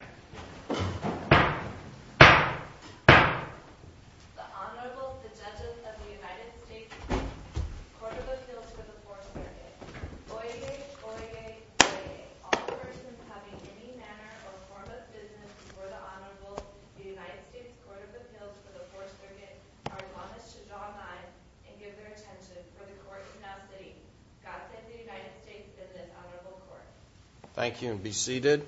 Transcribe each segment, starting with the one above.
The Honorable, the Judges of the United States Court of Appeals for the Fourth Circuit, Oyez, Oyez, Oyez. All persons having any manner or form of business before the Honorable, the United States Court of Appeals for the Fourth Circuit, are admonished to draw nines and give their attention, for the Court is now sitting. God send the United States to this Honorable Court. Thank you, and be seated.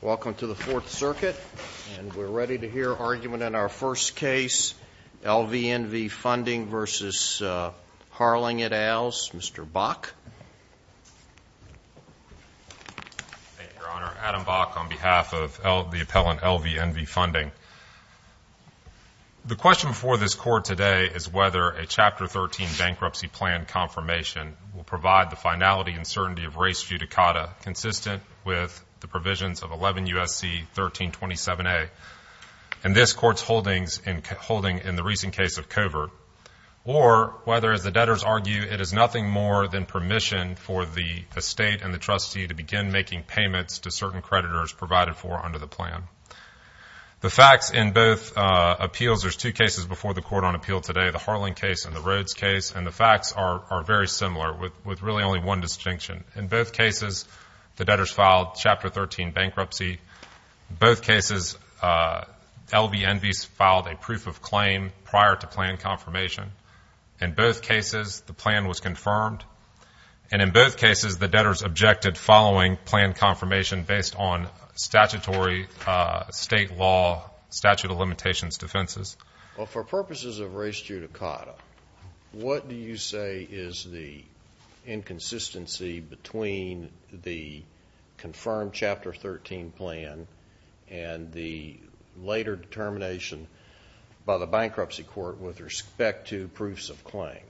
Welcome to the Fourth Circuit, and we're ready to hear argument in our first case, LVNV Funding v. Harling et al.'s, Mr. Bock. Thank you, Your Honor. Adam Bock on behalf of the appellant LVNV Funding. The question before this Court today is whether a Chapter 13 bankruptcy plan confirmation will provide the finality and certainty of race judicata consistent with the provisions of 11 U.S.C. 1327A and this Court's holdings in the recent case of covert, or whether, as the debtors argue, it is nothing more than permission for the estate and the trustee to begin making payments to certain creditors provided for under the plan. The facts in both appeals, there's two cases before the Court on appeal today, the Harling case and the Rhodes case, and the facts are very similar with really only one distinction. In both cases, the debtors filed Chapter 13 bankruptcy. In both cases, LVNV filed a proof of claim prior to plan confirmation. In both cases, the plan was confirmed. And in both cases, the debtors objected following plan confirmation based on statutory state law statute of limitations defenses. Well, for purposes of race judicata, what do you say is the inconsistency between the confirmed Chapter 13 plan and the later determination by the bankruptcy court with respect to proofs of claim?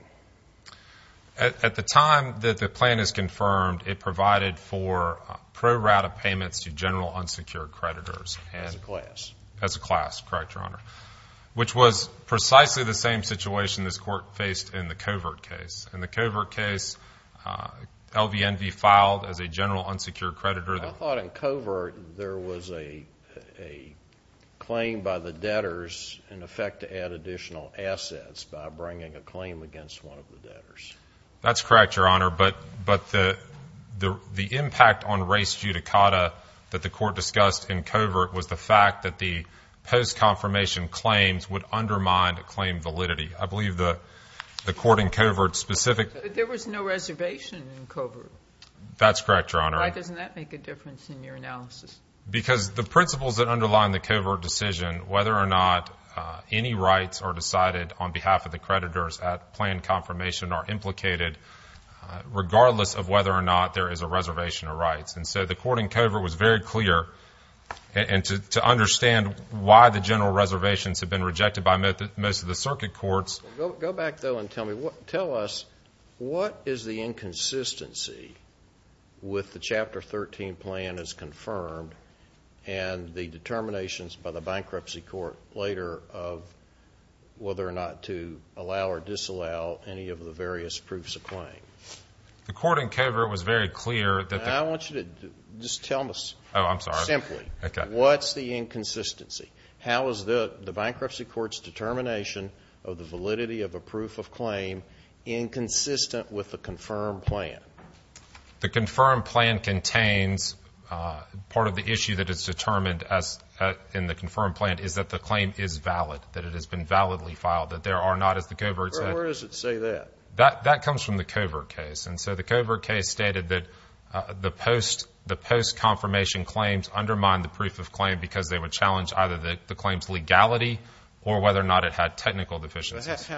At the time that the plan is confirmed, it provided for pro rata payments to general unsecured creditors. As a class. As a class, correct, Your Honor, which was precisely the same situation this Court faced in the covert case. In the covert case, LVNV filed as a general unsecured creditor. I thought in covert there was a claim by the debtors, in effect, to add additional assets by bringing a claim against one of the debtors. That's correct, Your Honor, but the impact on race judicata that the Court discussed in covert was the fact that the post-confirmation claims would undermine the claim validity. I believe the court in covert specific. There was no reservation in covert. That's correct, Your Honor. Why doesn't that make a difference in your analysis? Because the principles that underline the covert decision, whether or not any rights are decided on behalf of the creditors at plan confirmation, are implicated regardless of whether or not there is a reservation of rights. And so the court in covert was very clear, and to understand why the general reservations have been rejected by most of the circuit courts. Go back, though, and tell us what is the inconsistency with the Chapter 13 plan as confirmed and the determinations by the bankruptcy court later of whether or not to allow or disallow any of the various proofs of claim? The court in covert was very clear that the... I want you to just tell me simply. Oh, I'm sorry. What's the inconsistency? How is the bankruptcy court's determination of the validity of a proof of claim inconsistent with the confirmed plan? The confirmed plan contains part of the issue that is determined in the confirmed plan is that the claim is valid, that it has been validly filed, that there are not, as the covert said. Where does it say that? That comes from the covert case. And so the covert case stated that the post-confirmation claims undermine the proof of claim because they would challenge either the claim's legality or whether or not it had technical deficiencies.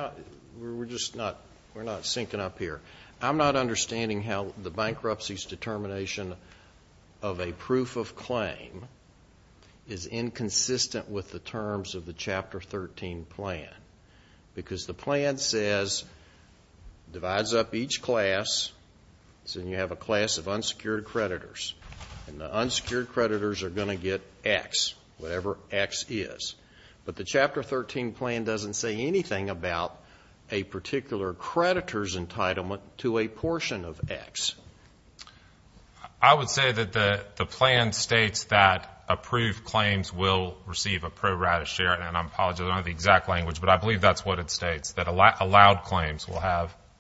We're just not.. .we're not syncing up here. I'm not understanding how the bankruptcy's determination of a proof of claim is inconsistent with the terms of the Chapter 13 plan because the plan says, divides up each class, so you have a class of unsecured creditors, and the unsecured creditors are going to get X, whatever X is. But the Chapter 13 plan doesn't say anything about a particular creditor's entitlement to a portion of X. I would say that the plan states that approved claims will receive a pro rata share, and I apologize, I don't have the exact language, but I believe that's what it states, that allowed claims will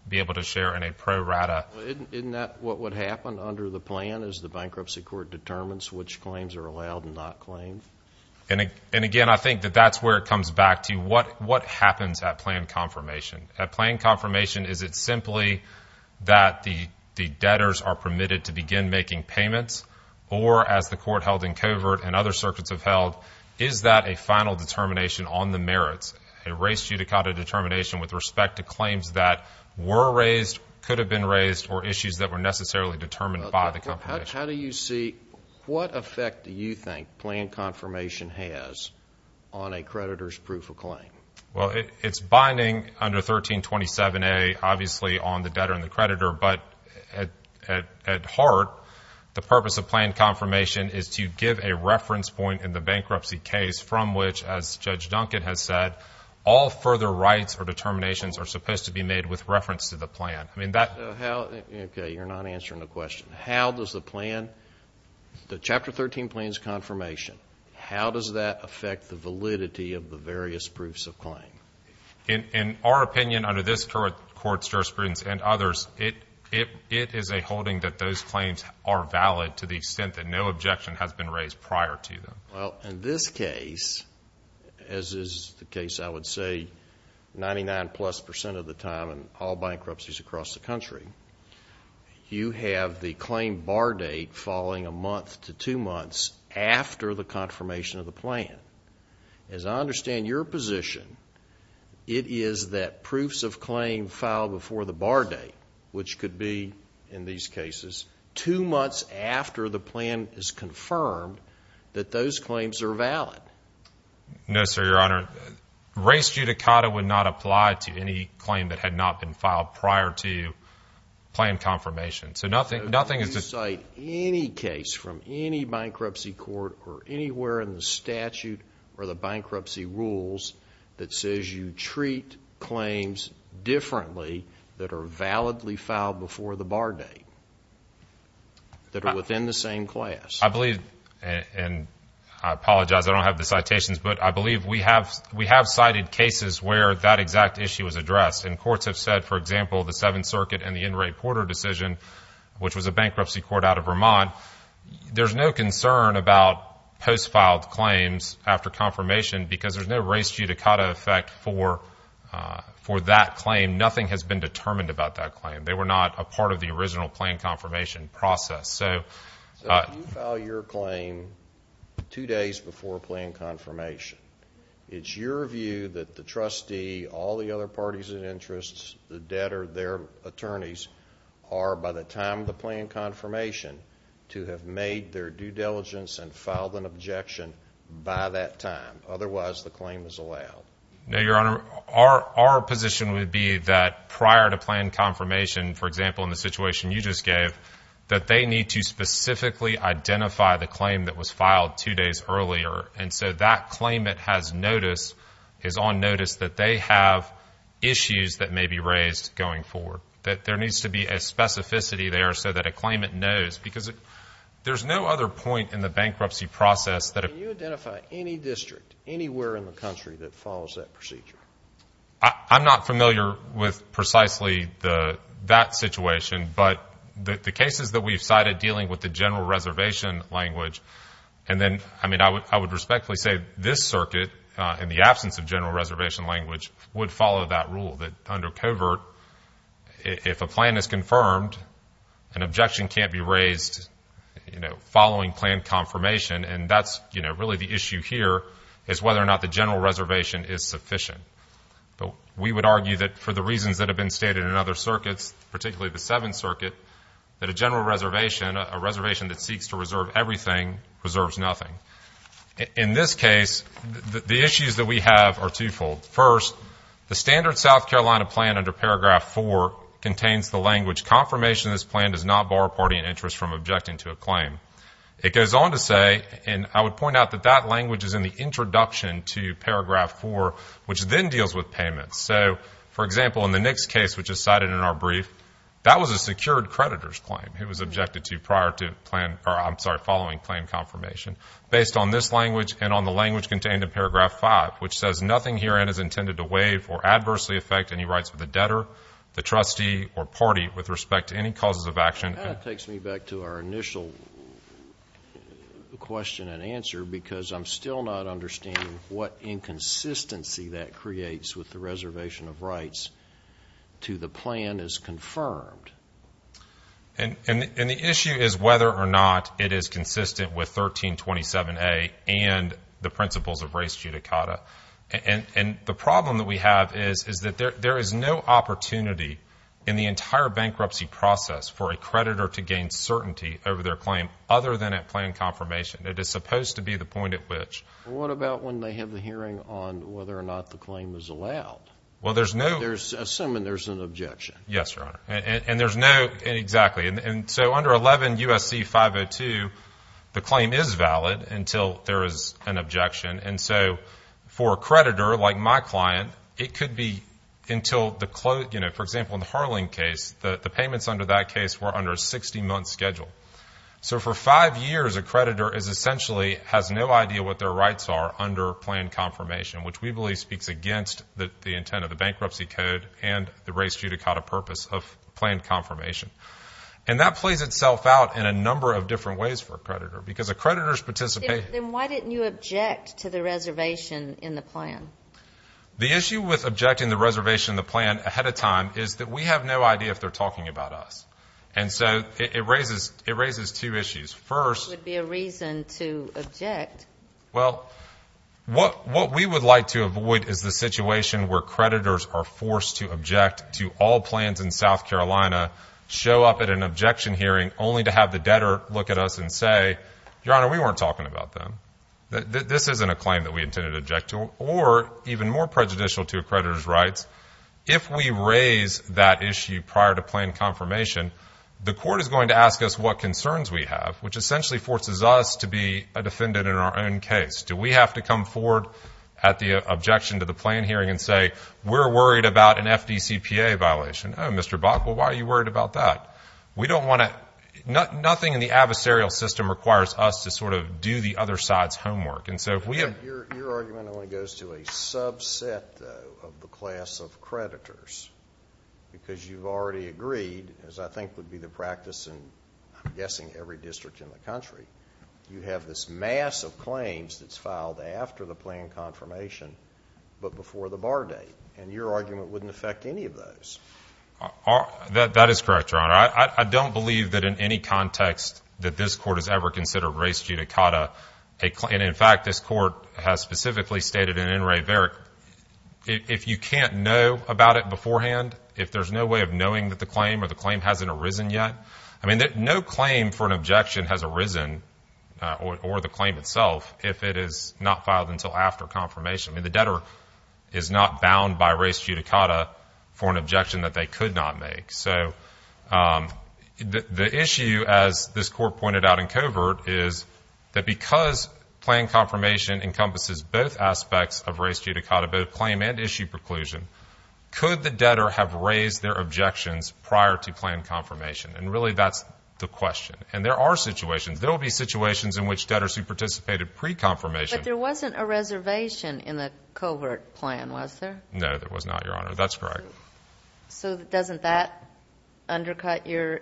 be able to share in a pro rata. Isn't that what would happen under the plan as the bankruptcy court determines which claims are allowed and not claimed? And again, I think that that's where it comes back to you. What happens at plan confirmation? At plan confirmation, is it simply that the debtors are permitted to begin making payments, or as the court held in Covert and other circuits have held, is that a final determination on the merits, a res judicata determination with respect to claims that were raised, could have been raised, or issues that were necessarily determined by the company? How do you see, what effect do you think plan confirmation has on a creditor's proof of claim? Well, it's binding under 1327A, obviously, on the debtor and the creditor, but at heart, the purpose of plan confirmation is to give a reference point in the bankruptcy case from which, as Judge Duncan has said, all further rights or determinations are supposed to be made with reference to the plan. Okay, you're not answering the question. How does the plan, the Chapter 13 plan's confirmation, how does that affect the validity of the various proofs of claim? In our opinion, under this court's jurisprudence and others, it is a holding that those claims are valid to the extent that no objection has been raised prior to them. Well, in this case, as is the case, I would say, 99-plus percent of the time in all bankruptcies across the country, you have the claim bar date falling a month to two months after the confirmation of the plan. As I understand your position, it is that proofs of claim fall before the bar date, which could be, in these cases, two months after the plan is confirmed that those claims are valid. No, sir, Your Honor. Race judicata would not apply to any claim that had not been filed prior to plan confirmation. So do you cite any case from any bankruptcy court or anywhere in the statute or the bankruptcy rules that says you treat claims differently that are validly filed before the bar date, that are within the same class? I believe, and I apologize, I don't have the citations, but I believe we have cited cases where that exact issue is addressed. And courts have said, for example, the Seventh Circuit and the N. Ray Porter decision, which was a bankruptcy court out of Vermont, there's no concern about post-filed claims after confirmation because there's no race judicata effect for that claim. Nothing has been determined about that claim. They were not a part of the original plan confirmation process. So if you file your claim two days before plan confirmation, it's your view that the trustee, all the other parties of interest, the debtor, their attorneys, are by the time of the plan confirmation to have made their due diligence and filed an objection by that time. Otherwise, the claim is allowed. No, Your Honor. Our position would be that prior to plan confirmation, for example, in the situation you just gave, that they need to specifically identify the claim that was filed two days earlier. And so that claimant has notice, is on notice that they have issues that may be raised going forward, that there needs to be a specificity there so that a claimant knows because there's no other point in the bankruptcy process. Can you identify any district anywhere in the country that follows that procedure? I'm not familiar with precisely that situation, but the cases that we've cited dealing with the general reservation language And then, I mean, I would respectfully say this circuit, in the absence of general reservation language, would follow that rule, that under covert, if a plan is confirmed, an objection can't be raised, you know, following plan confirmation. And that's, you know, really the issue here is whether or not the general reservation is sufficient. We would argue that for the reasons that have been stated in other circuits, particularly the Seventh Circuit, that a general reservation, a reservation that seeks to reserve everything, reserves nothing. In this case, the issues that we have are twofold. First, the standard South Carolina plan under Paragraph 4 contains the language, confirmation this plan does not bar a party in interest from objecting to a claim. It goes on to say, and I would point out that that language is in the introduction to Paragraph 4, which then deals with payments. So, for example, in the Nix case, which is cited in our brief, that was a secured creditor's claim. It was objected to prior to plan, or I'm sorry, following plan confirmation, based on this language and on the language contained in Paragraph 5, which says nothing herein is intended to waive or adversely affect any rights of the debtor, the trustee, or party with respect to any causes of action. That takes me back to our initial question and answer, because I'm still not understanding what inconsistency that creates with the reservation of rights to the plan as confirmed. And the issue is whether or not it is consistent with 1327A and the principles of res judicata. And the problem that we have is that there is no opportunity in the entire bankruptcy process for a creditor to gain certainty over their claim other than at plan confirmation. It is supposed to be the point at which. What about when they have the hearing on whether or not the claim is allowed? Well, there's no— Assuming there's an objection. Yes, Your Honor. And there's no—exactly. And so under 11 U.S.C. 502, the claim is valid until there is an objection. And so for a creditor like my client, it could be until the—you know, for example, in the Harling case, the payments under that case were under a 60-month schedule. So for five years, a creditor essentially has no idea what their rights are under plan confirmation, which we believe speaks against the intent of the Bankruptcy Code and the res judicata purpose of plan confirmation. And that plays itself out in a number of different ways for a creditor, because a creditor's participation— Then why didn't you object to the reservation in the plan? The issue with objecting the reservation in the plan ahead of time is that we have no idea if they're talking about us. And so it raises two issues. First— It would be a reason to object. Well, what we would like to avoid is the situation where creditors are forced to object to all plans in South Carolina, show up at an objection hearing only to have the debtor look at us and say, Your Honor, we weren't talking about them. This isn't a claim that we intended to object to. or even more prejudicial to a creditor's rights, if we raise that issue prior to plan confirmation, the court is going to ask us what concerns we have, which essentially forces us to be a defendant in our own case. Do we have to come forward at the objection to the plan hearing and say, We're worried about an FDCPA violation. Oh, Mr. Bach, well, why are you worried about that? We don't want to— Nothing in the adversarial system requires us to sort of do the other side's homework. And so if we have— Your argument only goes to a subset, though, of the class of creditors, because you've already agreed, as I think would be the practice in, I'm guessing, every district in the country, you have this mass of claims that's filed after the plan confirmation but before the bar date. And your argument wouldn't affect any of those. That is correct, Your Honor. I don't believe that in any context that this court has ever considered res judicata. And, in fact, this court has specifically stated in In Re Veric, if you can't know about it beforehand, if there's no way of knowing that the claim or the claim hasn't arisen yet, I mean, no claim for an objection has arisen or the claim itself if it is not filed until after confirmation. I mean, the debtor is not bound by res judicata for an objection that they could not make. So the issue, as this court pointed out in covert, is that because plan confirmation encompasses both aspects of res judicata, both claim and issue preclusion, could the debtor have raised their objections prior to plan confirmation? And, really, that's the question. And there are situations. There will be situations in which debtors who participated pre-confirmation— But there wasn't a reservation in the covert plan, was there? No, there was not, Your Honor. That's correct. So doesn't that undercut your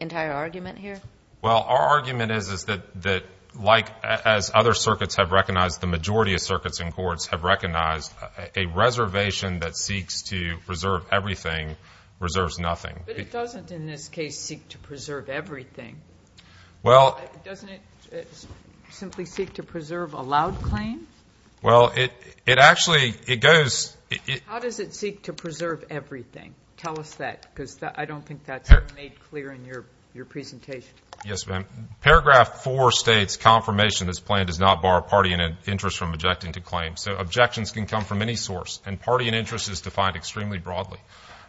entire argument here? Well, our argument is that, like as other circuits have recognized, the majority of circuits in courts have recognized a reservation that seeks to preserve everything reserves nothing. But it doesn't, in this case, seek to preserve everything. Well— Doesn't it simply seek to preserve allowed claims? Well, it actually—it goes— How does it seek to preserve everything? Tell us that, because I don't think that's made clear in your presentation. Yes, ma'am. Paragraph 4 states, Confirmation of this plan does not bar a party in interest from objecting to claims. So objections can come from any source, and party in interest is defined extremely broadly.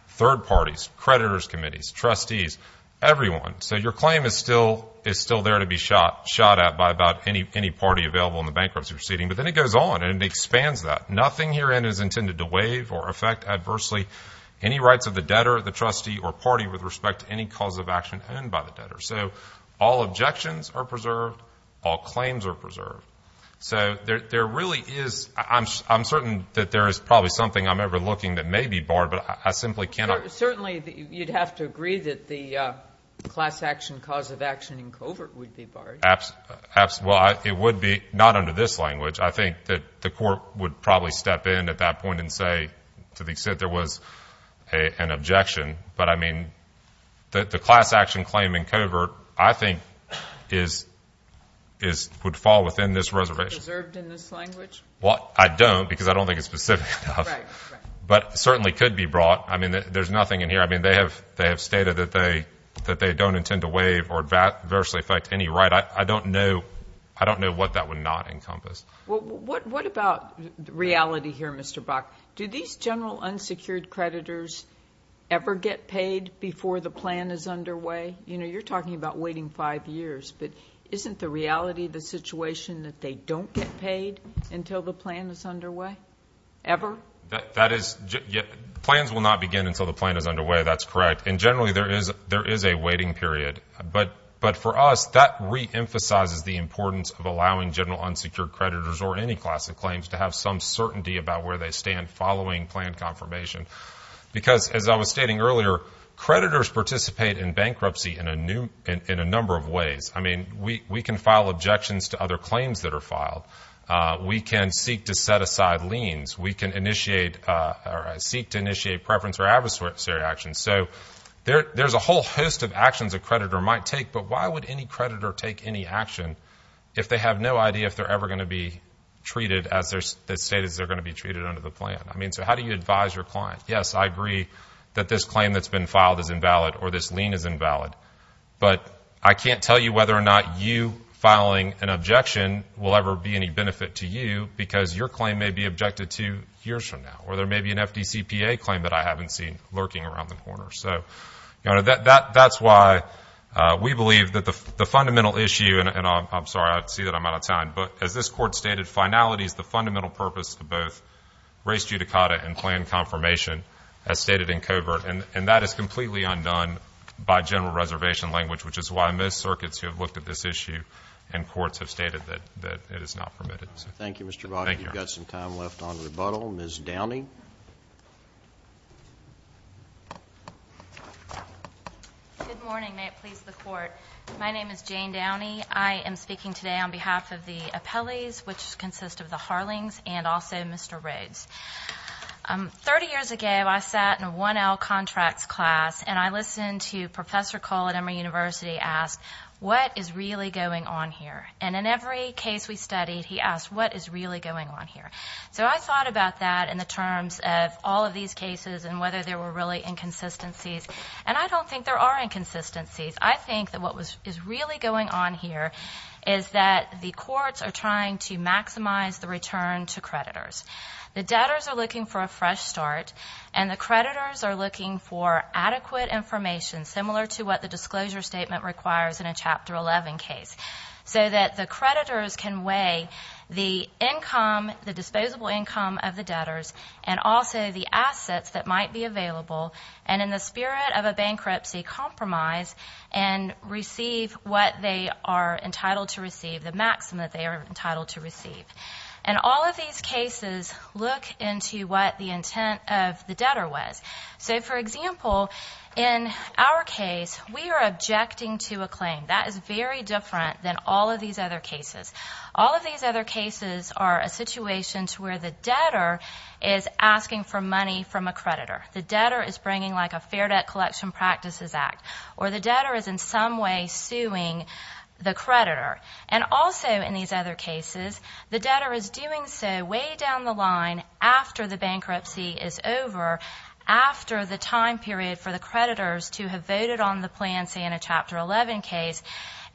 Third parties, creditors' committees, trustees, everyone. So your claim is still there to be shot at by about any party available in the bankruptcy proceeding. But then it goes on, and it expands that. Nothing herein is intended to waive or affect adversely any rights of the debtor, the trustee, or party with respect to any cause of action owned by the debtor. So all objections are preserved. All claims are preserved. So there really is—I'm certain that there is probably something I'm overlooking that may be barred, but I simply cannot— Certainly, you'd have to agree that the class action cause of action in covert would be barred. Well, it would be, not under this language. I think that the court would probably step in at that point and say, to the extent there was an objection. But, I mean, the class action claim in covert, I think, would fall within this reservation. Is it preserved in this language? Well, I don't because I don't think it's specific enough. Right, right. But it certainly could be brought. I mean, there's nothing in here. I mean, they have stated that they don't intend to waive or adversely affect any right. I don't know what that would not encompass. Well, what about reality here, Mr. Bach? Do these general unsecured creditors ever get paid before the plan is underway? You know, you're talking about waiting five years. But isn't the reality the situation that they don't get paid until the plan is underway, ever? That is—plans will not begin until the plan is underway. That's correct. And generally, there is a waiting period. But for us, that reemphasizes the importance of allowing general unsecured creditors or any class of claims to have some certainty about where they stand following plan confirmation. Because, as I was stating earlier, creditors participate in bankruptcy in a number of ways. I mean, we can file objections to other claims that are filed. We can seek to set aside liens. We can initiate—seek to initiate preference or adversary actions. So there's a whole host of actions a creditor might take. But why would any creditor take any action if they have no idea if they're ever going to be treated as they're stated they're going to be treated under the plan? I mean, so how do you advise your client? Yes, I agree that this claim that's been filed is invalid or this lien is invalid. But I can't tell you whether or not you filing an objection will ever be any benefit to you because your claim may be objected to years from now. Or there may be an FDCPA claim that I haven't seen lurking around the corner. So, Your Honor, that's why we believe that the fundamental issue—and I'm sorry. I see that I'm out of time. But as this Court stated, finality is the fundamental purpose of both race judicata and plan confirmation, as stated in covert. And that is completely undone by general reservation language, which is why most circuits who have looked at this issue in courts have stated that it is not permitted. Thank you, Mr. Brockett. You've got some time left on rebuttal. Ms. Downey? Good morning. May it please the Court. My name is Jane Downey. I am speaking today on behalf of the appellees, which consists of the Harlings and also Mr. Rhodes. Thirty years ago, I sat in a 1L contracts class, and I listened to Professor Cole at Emory University ask, what is really going on here? And in every case we studied, he asked, what is really going on here? So I thought about that in the terms of all of these cases and whether there were really inconsistencies. And I don't think there are inconsistencies. I think that what is really going on here is that the courts are trying to maximize the return to creditors. The debtors are looking for a fresh start, and the creditors are looking for adequate information, similar to what the disclosure statement requires in a Chapter 11 case, so that the creditors can weigh the income, the disposable income of the debtors, and also the assets that might be available, and in the spirit of a bankruptcy, compromise and receive what they are entitled to receive, the maximum that they are entitled to receive. And all of these cases look into what the intent of the debtor was. So, for example, in our case, we are objecting to a claim. That is very different than all of these other cases. All of these other cases are a situation to where the debtor is asking for money from a creditor. The debtor is bringing, like, a Fair Debt Collection Practices Act, or the debtor is in some way suing the creditor. And also in these other cases, the debtor is doing so way down the line after the bankruptcy is over, after the time period for the creditors to have voted on the plan, say, in a Chapter 11 case.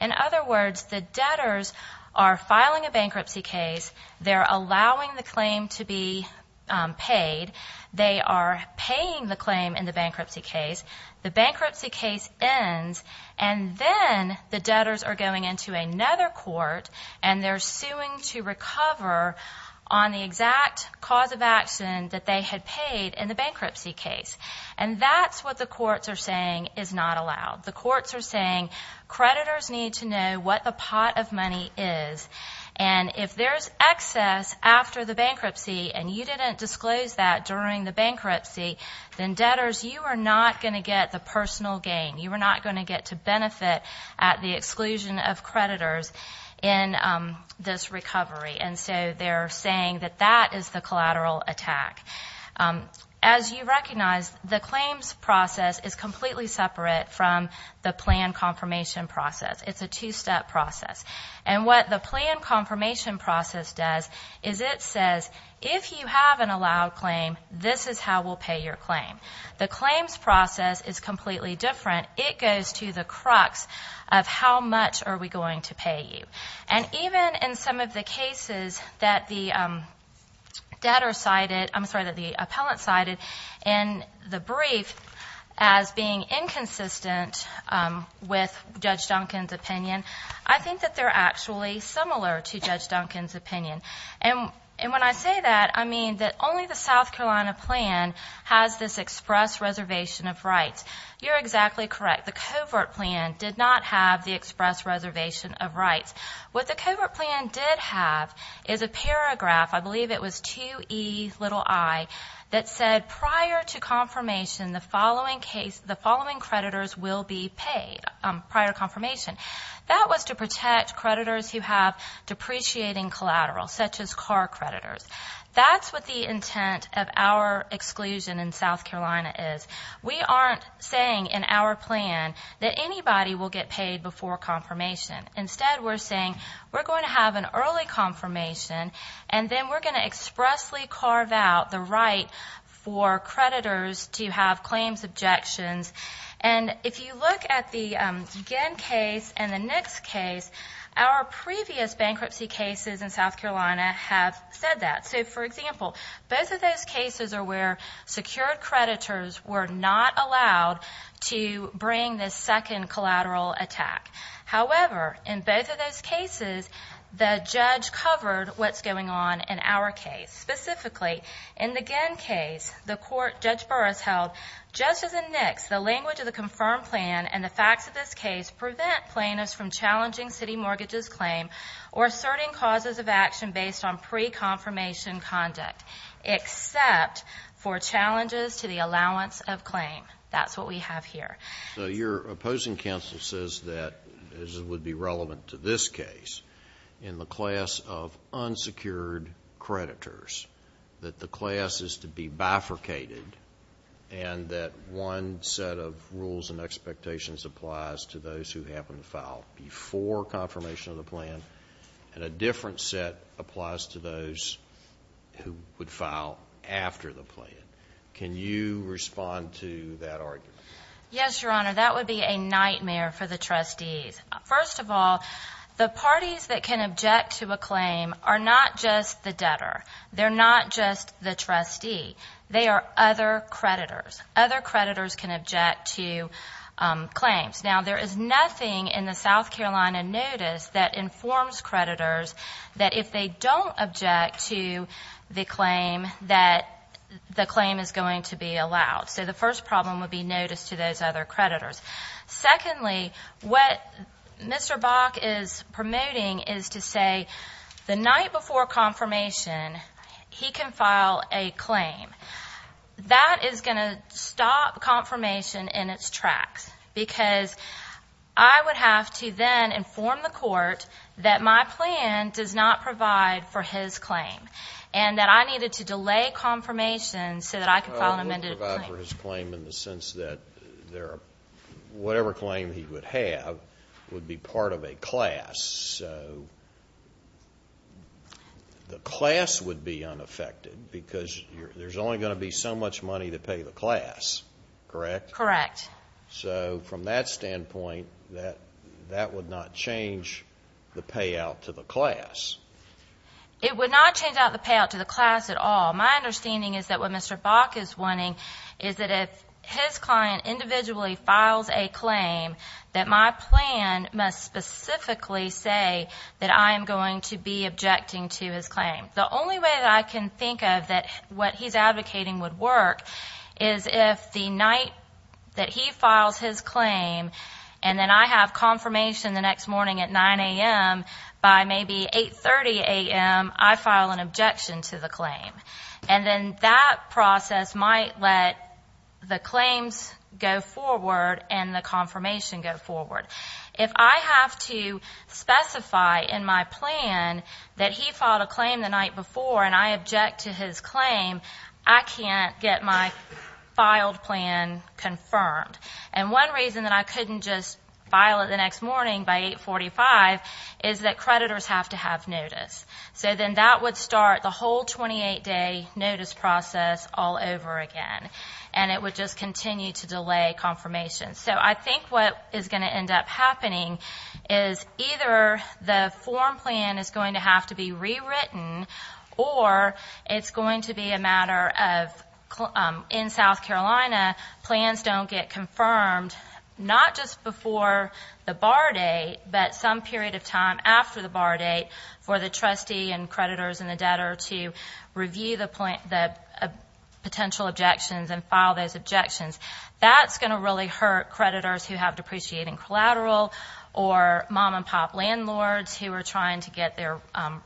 In other words, the debtors are filing a bankruptcy case. They're allowing the claim to be paid. They are paying the claim in the bankruptcy case. The bankruptcy case ends, and then the debtors are going into another court, and they're suing to recover on the exact cause of action that they had paid in the bankruptcy case. And that's what the courts are saying is not allowed. The courts are saying creditors need to know what the pot of money is. And if there's excess after the bankruptcy and you didn't disclose that during the bankruptcy, then, debtors, you are not going to get the personal gain. You are not going to get to benefit at the exclusion of creditors in this recovery. And so they're saying that that is the collateral attack. As you recognize, the claims process is completely separate from the plan confirmation process. It's a two-step process. And what the plan confirmation process does is it says, if you have an allowed claim, this is how we'll pay your claim. The claims process is completely different. It goes to the crux of how much are we going to pay you. And even in some of the cases that the debtor cited, I'm sorry, that the appellant cited in the brief as being inconsistent with Judge Duncan's opinion, I think that they're actually similar to Judge Duncan's opinion. And when I say that, I mean that only the South Carolina plan has this express reservation of rights. You're exactly correct. The covert plan did not have the express reservation of rights. What the covert plan did have is a paragraph, I believe it was 2Ei, that said, prior to confirmation, the following creditors will be paid prior to confirmation. That was to protect creditors who have depreciating collateral, such as car creditors. That's what the intent of our exclusion in South Carolina is. We aren't saying in our plan that anybody will get paid before confirmation. Instead, we're saying we're going to have an early confirmation, and then we're going to expressly carve out the right for creditors to have claims objections. And if you look at the Genn case and the Nix case, our previous bankruptcy cases in South Carolina have said that. So, for example, both of those cases are where secured creditors were not allowed to bring this second collateral attack. However, in both of those cases, the judge covered what's going on in our case. Specifically, in the Genn case, the court Judge Burr has held, just as in Nix, the language of the confirmed plan and the facts of this case prevent plaintiffs from challenging city mortgages claim or asserting causes of action based on pre-confirmation conduct, except for challenges to the allowance of claim. That's what we have here. So your opposing counsel says that, as would be relevant to this case, in the class of unsecured creditors that the class is to be bifurcated and that one set of rules and expectations applies to those who happen to file before confirmation of the plan, and a different set applies to those who would file after the plan. Can you respond to that argument? Yes, Your Honor. That would be a nightmare for the trustees. First of all, the parties that can object to a claim are not just the debtor. They're not just the trustee. They are other creditors. Other creditors can object to claims. Now, there is nothing in the South Carolina notice that informs creditors that if they don't object to the claim, that the claim is going to be allowed. So the first problem would be notice to those other creditors. Secondly, what Mr. Bach is promoting is to say the night before confirmation, he can file a claim. That is going to stop confirmation in its tracks because I would have to then inform the court that my plan does not provide for his claim and that I needed to delay confirmation so that I could file an amended claim. It won't provide for his claim in the sense that whatever claim he would have would be part of a class. So the class would be unaffected because there's only going to be so much money to pay the class, correct? Correct. So from that standpoint, that would not change the payout to the class. It would not change the payout to the class at all. My understanding is that what Mr. Bach is wanting is that if his client individually files a claim, that my plan must specifically say that I am going to be objecting to his claim. The only way that I can think of that what he's advocating would work is if the night that he files his claim and then I have confirmation the next morning at 9 a.m., by maybe 8.30 a.m., I file an objection to the claim. And then that process might let the claims go forward and the confirmation go forward. If I have to specify in my plan that he filed a claim the night before and I object to his claim, I can't get my filed plan confirmed. And one reason that I couldn't just file it the next morning by 8.45 is that creditors have to have notice. So then that would start the whole 28-day notice process all over again, and it would just continue to delay confirmation. So I think what is going to end up happening is either the form plan is going to have to be rewritten or it's going to be a matter of, in South Carolina, plans don't get confirmed not just before the bar date, but some period of time after the bar date for the trustee and creditors and the debtor to review the potential objections and file those objections. That's going to really hurt creditors who have depreciating collateral or mom-and-pop landlords who are trying to get their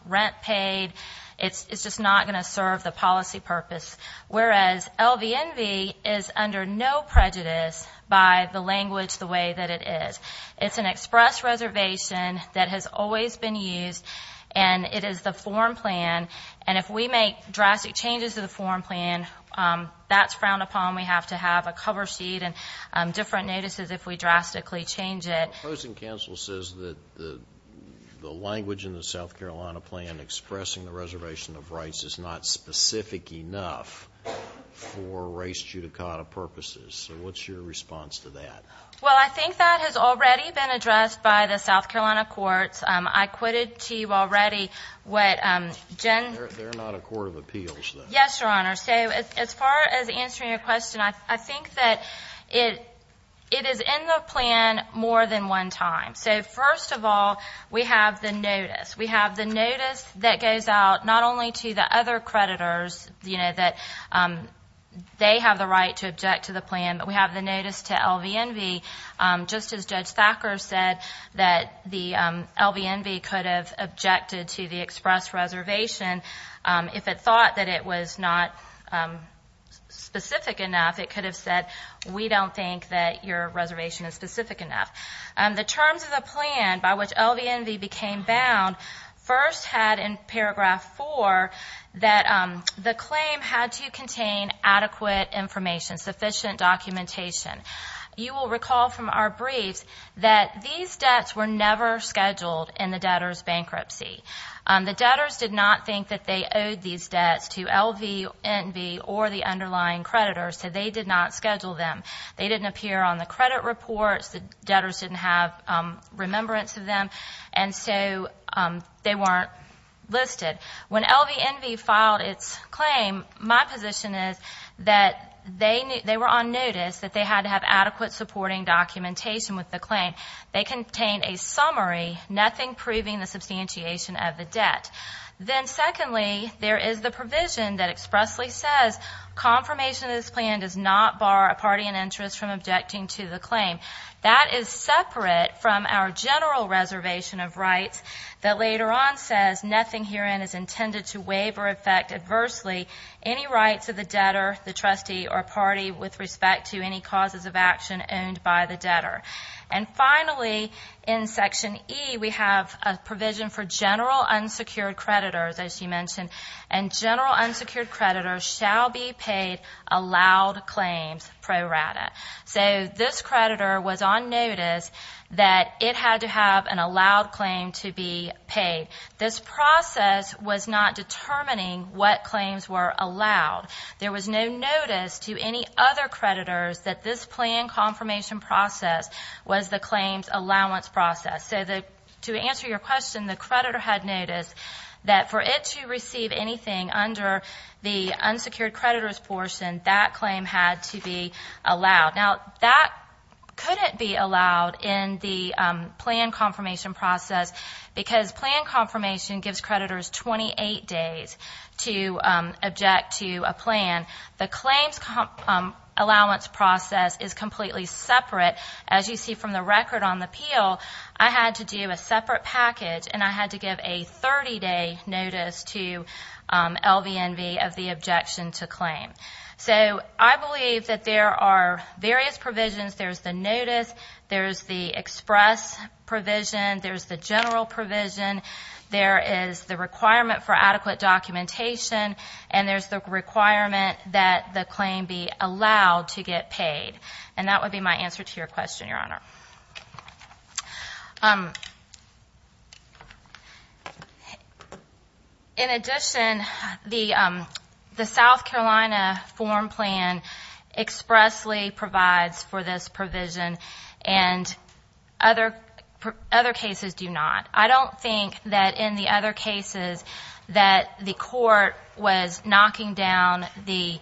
rent paid. It's just not going to serve the policy purpose. Whereas LVNV is under no prejudice by the language the way that it is. It's an express reservation that has always been used, and it is the form plan. And if we make drastic changes to the form plan, that's frowned upon. We have to have a cover sheet and different notices if we drastically change it. The opposing counsel says that the language in the South Carolina plan expressing the reservation of rights is not specific enough for race judicata purposes. So what's your response to that? Well, I think that has already been addressed by the South Carolina courts. I quitted to you already what Jen— They're not a court of appeals, though. Yes, Your Honor. So as far as answering your question, I think that it is in the plan more than one time. So first of all, we have the notice. We have the notice that goes out not only to the other creditors that they have the right to object to the plan, but we have the notice to LVNV, just as Judge Thacker said, that the LVNV could have objected to the express reservation if it thought that it was not specific enough. It could have said, we don't think that your reservation is specific enough. The terms of the plan by which LVNV became bound first had in paragraph 4 that the claim had to contain adequate information, sufficient documentation. You will recall from our briefs that these debts were never scheduled in the debtor's bankruptcy. The debtors did not think that they owed these debts to LVNV or the underlying creditors, so they did not schedule them. They didn't appear on the credit reports. The debtors didn't have remembrance of them, and so they weren't listed. When LVNV filed its claim, my position is that they were on notice, that they had to have adequate supporting documentation with the claim. They contained a summary, nothing proving the substantiation of the debt. Then secondly, there is the provision that expressly says, confirmation of this plan does not bar a party in interest from objecting to the claim. That is separate from our general reservation of rights that later on says, nothing herein is intended to waive or affect adversely any rights of the debtor, the trustee, or party with respect to any causes of action owned by the debtor. And finally, in section E, we have a provision for general unsecured creditors, as you mentioned, and general unsecured creditors shall be paid allowed claims pro rata. So this creditor was on notice that it had to have an allowed claim to be paid. This process was not determining what claims were allowed. There was no notice to any other creditors that this plan confirmation process was the claims allowance process. So to answer your question, the creditor had noticed that for it to receive anything under the unsecured creditors portion, that claim had to be allowed. Now, that couldn't be allowed in the plan confirmation process because plan confirmation gives creditors 28 days to object to a plan. The claims allowance process is completely separate. As you see from the record on the peel, I had to do a separate package and I had to give a 30-day notice to LVNV of the objection to claim. So I believe that there are various provisions. There's the notice, there's the express provision, there's the general provision, there is the requirement for adequate documentation, and there's the requirement that the claim be allowed to get paid. And that would be my answer to your question, Your Honor. In addition, the South Carolina form plan expressly provides for this provision and other cases do not. I don't think that in the other cases that the court was knocking down the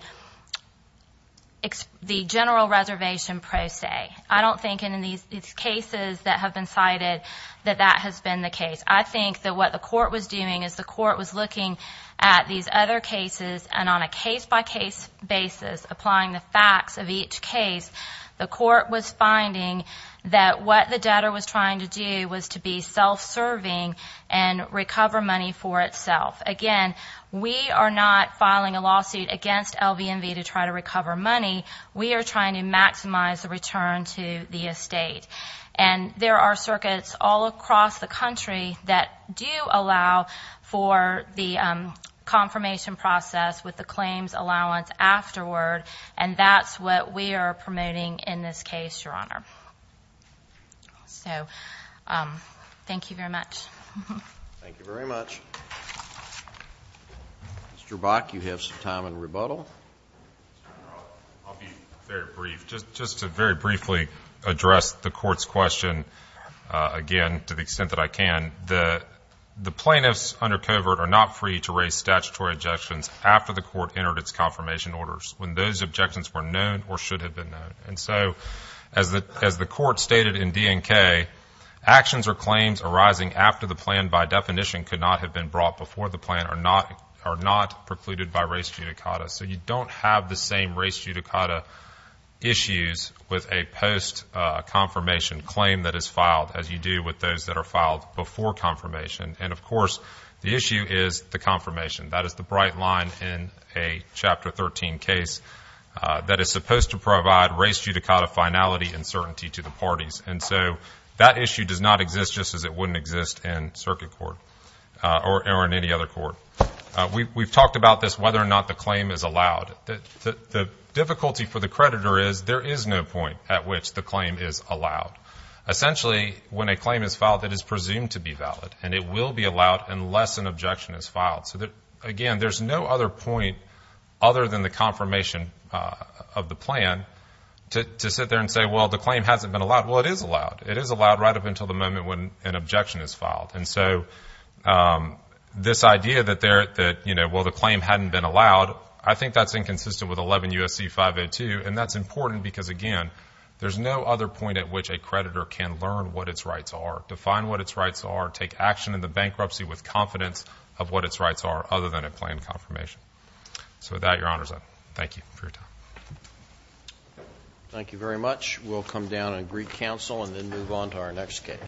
general reservation pro se. I don't think in these cases that have been cited that that has been the case. I think that what the court was doing is the court was looking at these other cases and on a case-by-case basis, applying the facts of each case, the court was finding that what the debtor was trying to do was to be self-serving and recover money for itself. Again, we are not filing a lawsuit against LVNV to try to recover money. We are trying to maximize the return to the estate. And there are circuits all across the country that do allow for the confirmation process with the claims allowance afterward, and that's what we are promoting in this case, Your Honor. So thank you very much. Thank you very much. Mr. Bach, you have some time in rebuttal. I'll be very brief. Just to very briefly address the court's question, again, to the extent that I can, the plaintiffs under covert are not free to raise statutory objections after the court entered its confirmation orders, when those objections were known or should have been known. And so as the court stated in DNK, actions or claims arising after the plan by definition could not have been brought before the plan are not precluded by race judicata. So you don't have the same race judicata issues with a post-confirmation claim that is filed as you do with those that are filed before confirmation. And, of course, the issue is the confirmation. That is the bright line in a Chapter 13 case that is supposed to provide race judicata finality and certainty to the parties. And so that issue does not exist just as it wouldn't exist in circuit court or in any other court. We've talked about this, whether or not the claim is allowed. The difficulty for the creditor is there is no point at which the claim is allowed. Essentially, when a claim is filed, it is presumed to be valid, and it will be allowed unless an objection is filed. So, again, there's no other point other than the confirmation of the plan to sit there and say, well, the claim hasn't been allowed. Well, it is allowed. It is allowed right up until the moment when an objection is filed. And so this idea that, well, the claim hadn't been allowed, I think that's inconsistent with 11 U.S.C. 502, and that's important because, again, there's no other point at which a creditor can learn what its rights are, define what its rights are, take action in the bankruptcy with confidence of what its rights are, other than a planned confirmation. So with that, Your Honor's up. Thank you for your time. Thank you very much. We'll come down and greet counsel and then move on to our next case.